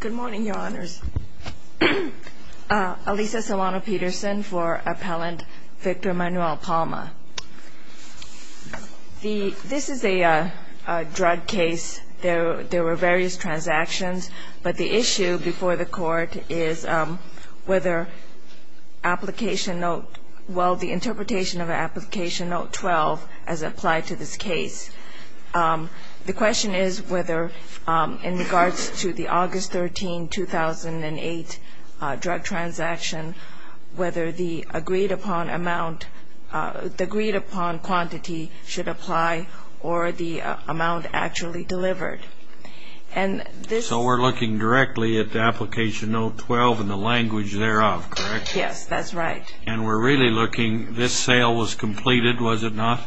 Good morning, Your Honors. Alisa Solano-Peterson for Appellant Victor Manuel Palma. This is a drug case. There were various transactions, but the issue before the Court is whether the interpretation of Application Note 12 as applied to this case. The question is whether in regards to the August 13, 2008 drug transaction, whether the agreed-upon amount, the agreed-upon quantity should apply or the amount actually delivered. So we're looking directly at the Application Note 12 and the language thereof, correct? Yes, that's right. And we're really looking, this sale was completed, was it not?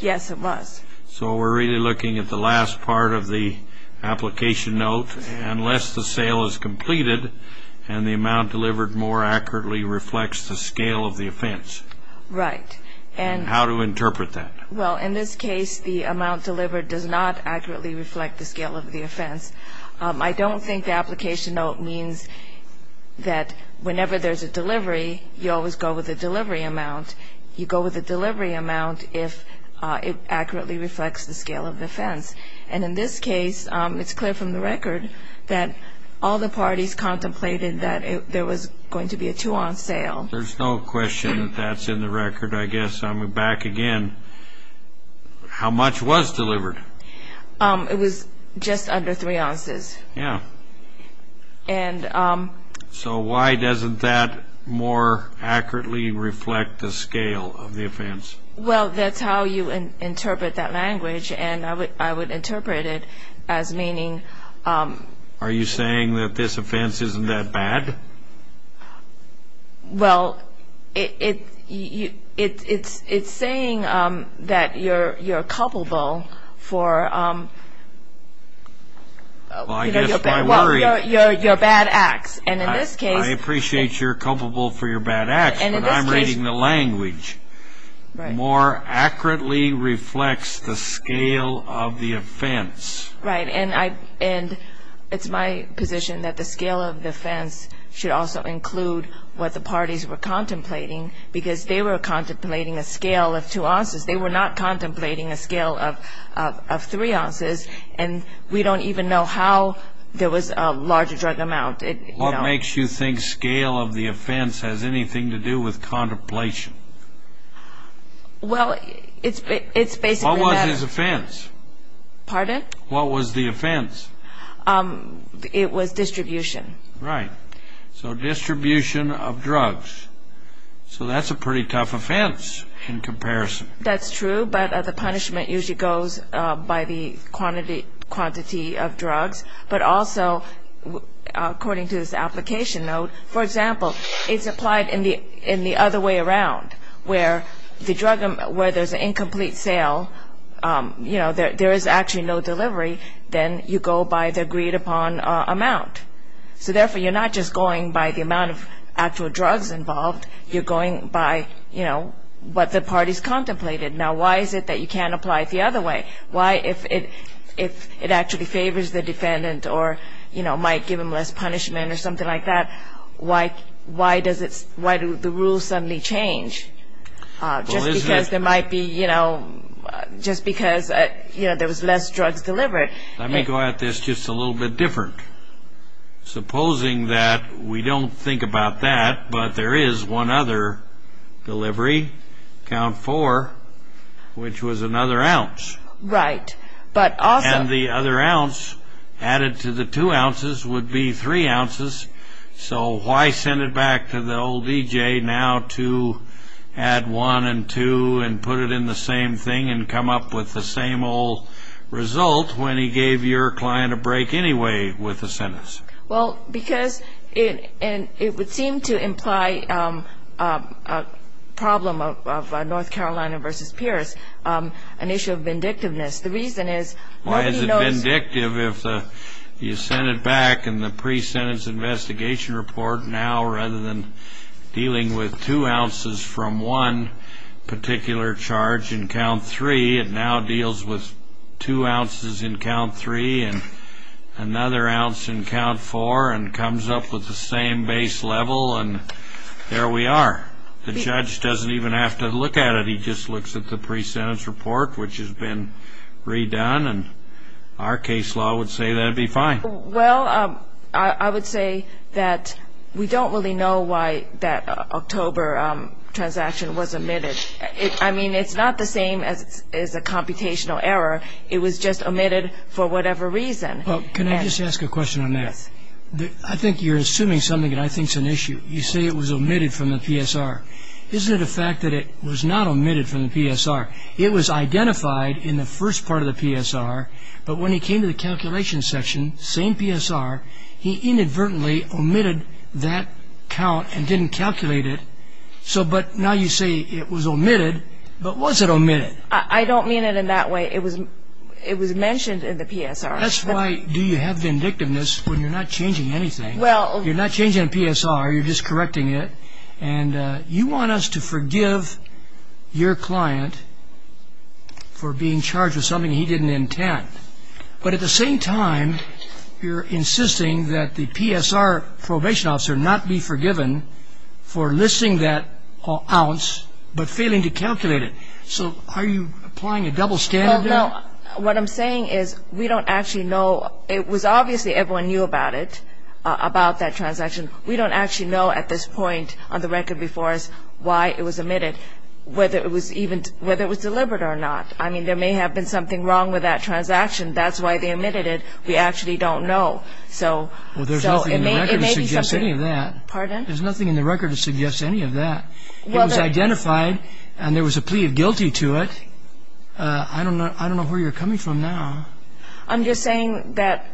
Yes, it was. So we're really looking at the last part of the Application Note, unless the sale is completed and the amount delivered more accurately reflects the scale of the offense. Right. And how to interpret that. Well, in this case, the amount delivered does not accurately reflect the scale of the offense. I don't think the Application Note means that whenever there's a delivery, you always go with a delivery amount. You go with a delivery amount if it accurately reflects the scale of the offense. And in this case, it's clear from the record that all the parties contemplated that there was going to be a two-ounce sale. There's no question that that's in the record, I guess. I'm back again. How much was delivered? It was just under three ounces. Yeah. So why doesn't that more accurately reflect the scale of the offense? Well, that's how you interpret that language, and I would interpret it as meaning... Are you saying that this offense isn't that bad? Well, it's saying that you're culpable for... Well, your bad acts. And in this case... I appreciate you're culpable for your bad acts, but I'm reading the language. More accurately reflects the scale of the offense. Right. And it's my position that the scale of the offense should also include what the parties were contemplating because they were contemplating a scale of two ounces. They were not contemplating a scale of three ounces, and we don't even know how there was a larger drug amount. What makes you think scale of the offense has anything to do with contemplation? Well, it's basically that... What was his offense? Pardon? What was the offense? It was distribution. Right. So distribution of drugs. So that's a pretty tough offense in comparison. That's true, but the punishment usually goes by the quantity of drugs. But also, according to this application note, for example, it's applied in the other way around where there's an incomplete sale, you know, there is actually no delivery, then you go by the agreed upon amount. So therefore, you're not just going by the amount of actual drugs involved, you're going by, you know, what the parties contemplated. Now, why is it that you can't apply it the other way? Why, if it actually favors the defendant or, you know, might give them less punishment or something like that, why do the rules suddenly change? Just because there might be, you know, just because, you know, there was less drugs delivered. Let me go at this just a little bit different. Supposing that we don't think about that, but there is one other delivery, count four, which was another ounce. Right. And the other ounce added to the two ounces would be three ounces, so why send it back to the old DJ now to add one and two and put it in the same thing and come up with the same old result when he gave your client a break anyway with the sentence? Well, because it would seem to imply a problem of North Carolina versus Pierce, an issue of vindictiveness. The reason is nobody knows. Why is it vindictive if you send it back in the pre-sentence investigation report now rather than dealing with two ounces from one particular charge in count three? It now deals with two ounces in count three and another ounce in count four and comes up with the same base level, and there we are. The judge doesn't even have to look at it. He just looks at the pre-sentence report, which has been redone, and our case law would say that'd be fine. Well, I would say that we don't really know why that October transaction was omitted. I mean, it's not the same as a computational error. It was just omitted for whatever reason. Can I just ask a question on that? Yes. I think you're assuming something that I think is an issue. You say it was omitted from the PSR. Isn't it a fact that it was not omitted from the PSR? It was identified in the first part of the PSR, but when he came to the calculation section, same PSR, he inadvertently omitted that count and didn't calculate it. But now you say it was omitted, but was it omitted? I don't mean it in that way. It was mentioned in the PSR. That's why you have vindictiveness when you're not changing anything. You're not changing the PSR. You're just correcting it. And you want us to forgive your client for being charged with something he didn't intend, but at the same time you're insisting that the PSR probation officer not be forgiven for listing that ounce but failing to calculate it. So are you applying a double standard there? Well, no. What I'm saying is we don't actually know. It was obviously everyone knew about it, about that transaction. We don't actually know at this point on the record before us why it was omitted, whether it was delivered or not. I mean, there may have been something wrong with that transaction. That's why they omitted it. We actually don't know. Well, there's nothing in the record to suggest any of that. Pardon? There's nothing in the record to suggest any of that. It was identified, and there was a plea of guilty to it. I don't know where you're coming from now. I'm just saying that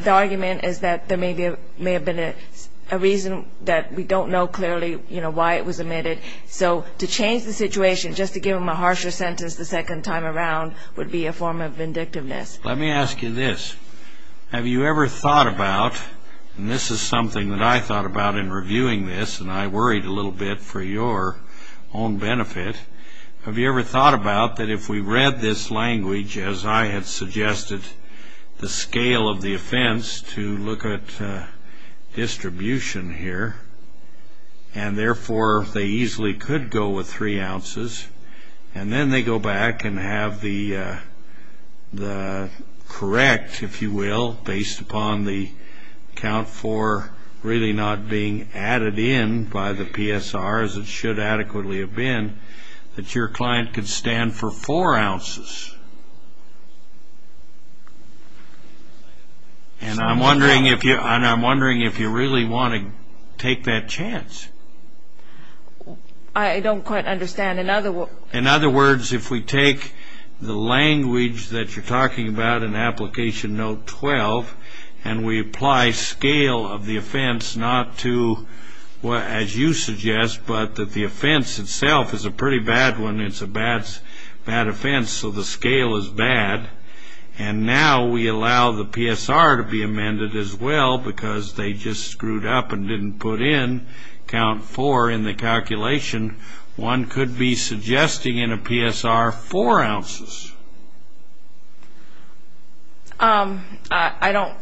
the argument is that there may have been a reason that we don't know clearly why it was omitted. So to change the situation just to give him a harsher sentence the second time around would be a form of vindictiveness. Let me ask you this. Have you ever thought about, and this is something that I thought about in reviewing this, and I worried a little bit for your own benefit, have you ever thought about that if we read this language, as I had suggested, the scale of the offense to look at distribution here, and therefore they easily could go with three ounces, and then they go back and have the correct, if you will, based upon the count for really not being added in by the PSR as it should adequately have been, that your client could stand for four ounces? And I'm wondering if you really want to take that chance. I don't quite understand. In other words, if we take the language that you're talking about in Application Note 12, and we apply scale of the offense not to, as you suggest, but that the offense itself is a pretty bad one, it's a bad offense, so the scale is bad, and now we allow the PSR to be amended as well because they just screwed up and didn't put in count four in the calculation, one could be suggesting in a PSR four ounces. I don't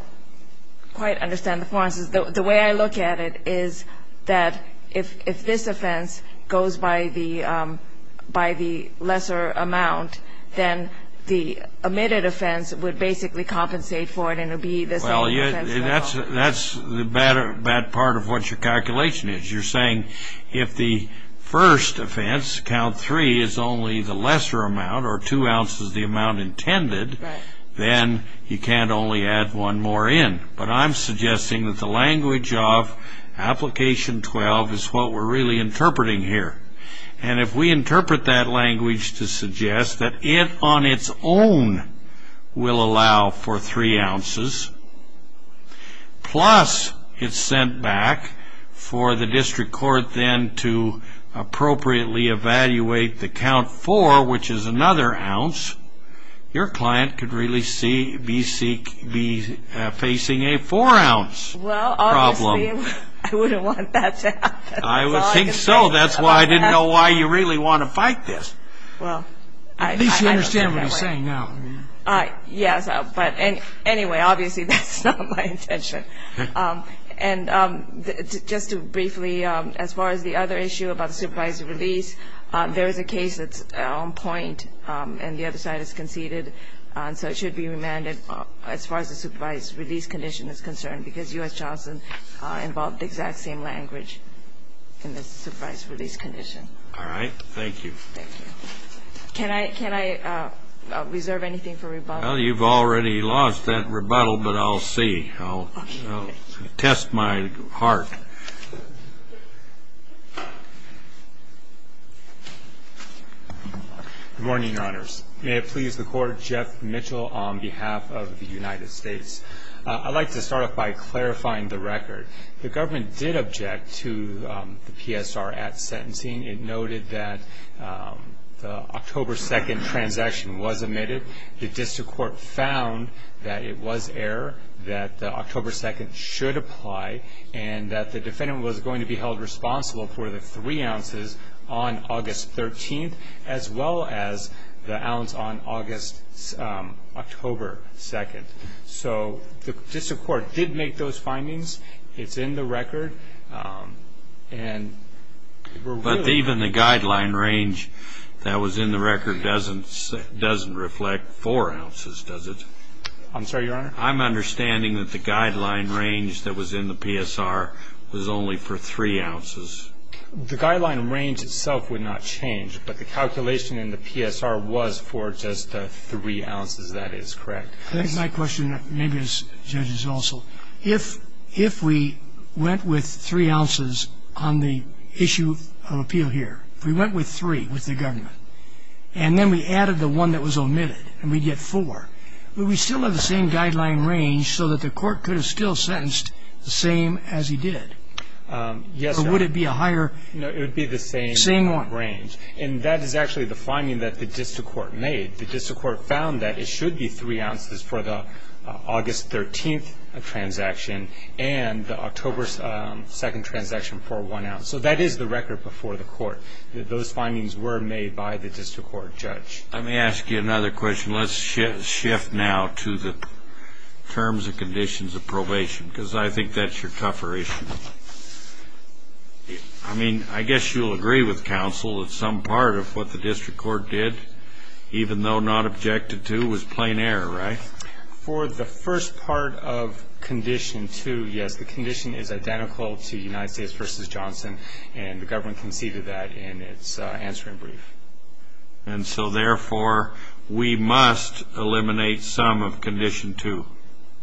quite understand the four ounces. The way I look at it is that if this offense goes by the lesser amount, then the omitted offense would basically compensate for it and it would be the same offense. Well, that's the bad part of what your calculation is. You're saying if the first offense, count three, is only the lesser amount, or two ounces the amount intended, then you can't only add one more in. But I'm suggesting that the language of Application 12 is what we're really interpreting here. And if we interpret that language to suggest that it on its own will allow for three ounces, plus it's sent back for the district court then to appropriately evaluate the count four, which is another ounce, your client could really be facing a four ounce problem. Well, obviously, I wouldn't want that to happen. I would think so. That's why I didn't know why you really want to fight this. At least you understand what he's saying now. Yes, but anyway, obviously that's not my intention. And just briefly, as far as the other issue about the supervised release, there is a case that's on point and the other side has conceded, so it should be remanded as far as the supervised release condition is concerned because U.S. Charleston involved the exact same language in the supervised release condition. All right. Thank you. Can I reserve anything for rebuttal? Well, you've already lost that rebuttal, but I'll see. I'll test my heart. Good morning, Your Honors. May it please the Court, Jeff Mitchell on behalf of the United States. I'd like to start off by clarifying the record. The government did object to the PSR at sentencing. It noted that the October 2nd transaction was omitted. The district court found that it was error, that the October 2nd should apply, and that the defendant was going to be held responsible for the three ounces on August 13th as well as the ounce on October 2nd. So the district court did make those findings. It's in the record. But even the guideline range that was in the record doesn't reflect four ounces, does it? I'm sorry, Your Honor? I'm understanding that the guideline range that was in the PSR was only for three ounces. The guideline range itself would not change, but the calculation in the PSR was for just three ounces, that is correct. That is my question, maybe as judges also. If we went with three ounces on the issue of appeal here, if we went with three with the government, and then we added the one that was omitted, and we'd get four, would we still have the same guideline range so that the court could have still sentenced the same as he did? Yes, Your Honor. Or would it be a higher? No, it would be the same range. Same one. And that is actually the finding that the district court made. The district court found that it should be three ounces for the August 13th transaction and the October 2nd transaction for one ounce. So that is the record before the court, that those findings were made by the district court judge. Let me ask you another question. Let's shift now to the terms and conditions of probation, because I think that's your tougher issue. I mean, I guess you'll agree with counsel that some part of what the district court did, even though not objected to, was plain error, right? For the first part of condition two, yes, the condition is identical to United States v. Johnson, and the government conceded that in its answering brief. And so, therefore, we must eliminate some of condition two.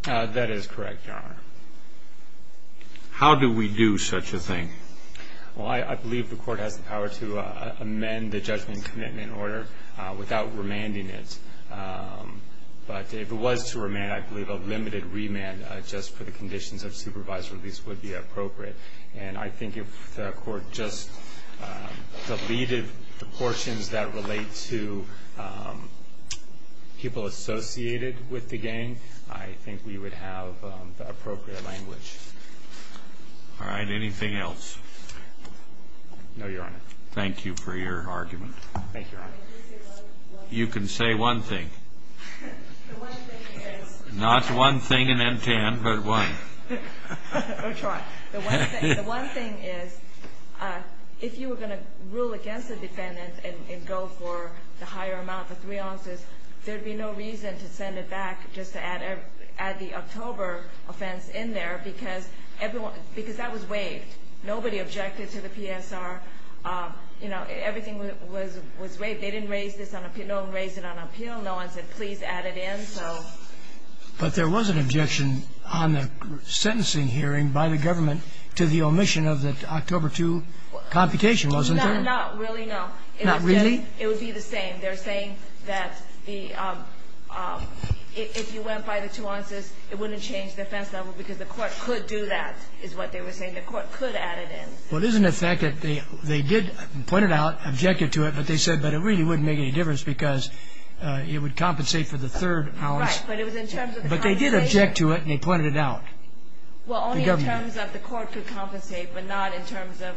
That is correct, Your Honor. How do we do such a thing? Well, I believe the court has the power to amend the judgment and commitment order without remanding it. But if it was to remand, I believe a limited remand just for the conditions of supervised release would be appropriate. And I think if the court just deleted the portions that relate to people associated with the gang, I think we would have the appropriate language. All right. Anything else? No, Your Honor. Thank you for your argument. Thank you, Your Honor. You can say one thing. The one thing is... Not one thing in M-10, but one. I'll try. The one thing is, if you were going to rule against a defendant and go for the higher amount, the three ounces, there would be no reason to send it back just to add the October offense in there because that was waived. Nobody objected to the PSR. You know, everything was waived. They didn't raise this on appeal. No one raised it on appeal. No one said, please add it in. But there was an objection on the sentencing hearing by the government to the omission of the October 2 computation, wasn't there? Not really, no. Not really? It would be the same. They're saying that if you went by the two ounces, it wouldn't change the offense level because the court could do that is what they were saying. The court could add it in. Well, there's an effect that they did point it out, objected to it, but they said, but it really wouldn't make any difference because it would compensate for the third ounce. Right. But it was in terms of the compensation. But they did object to it, and they pointed it out. Well, only in terms of the court could compensate, but not in terms of,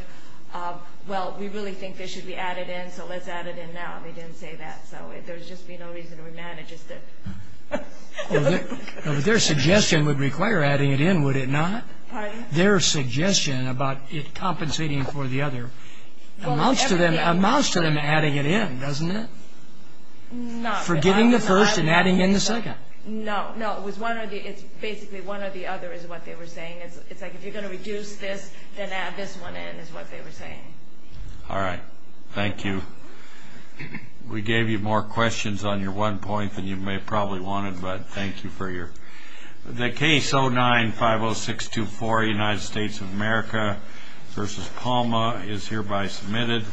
well, we really think this should be added in, so let's add it in now. They didn't say that, so there would just be no reason to remand it. Their suggestion would require adding it in, would it not? Pardon? Their suggestion about it compensating for the other amounts to them adding it in, doesn't it? No. Forgiving the first and adding in the second. No, no. It's basically one or the other is what they were saying. It's like if you're going to reduce this, then add this one in is what they were saying. All right. Thank you. We gave you more questions on your one point than you may have probably wanted, but thank you for your... The case 09-50624, United States of America v. Palma is hereby submitted.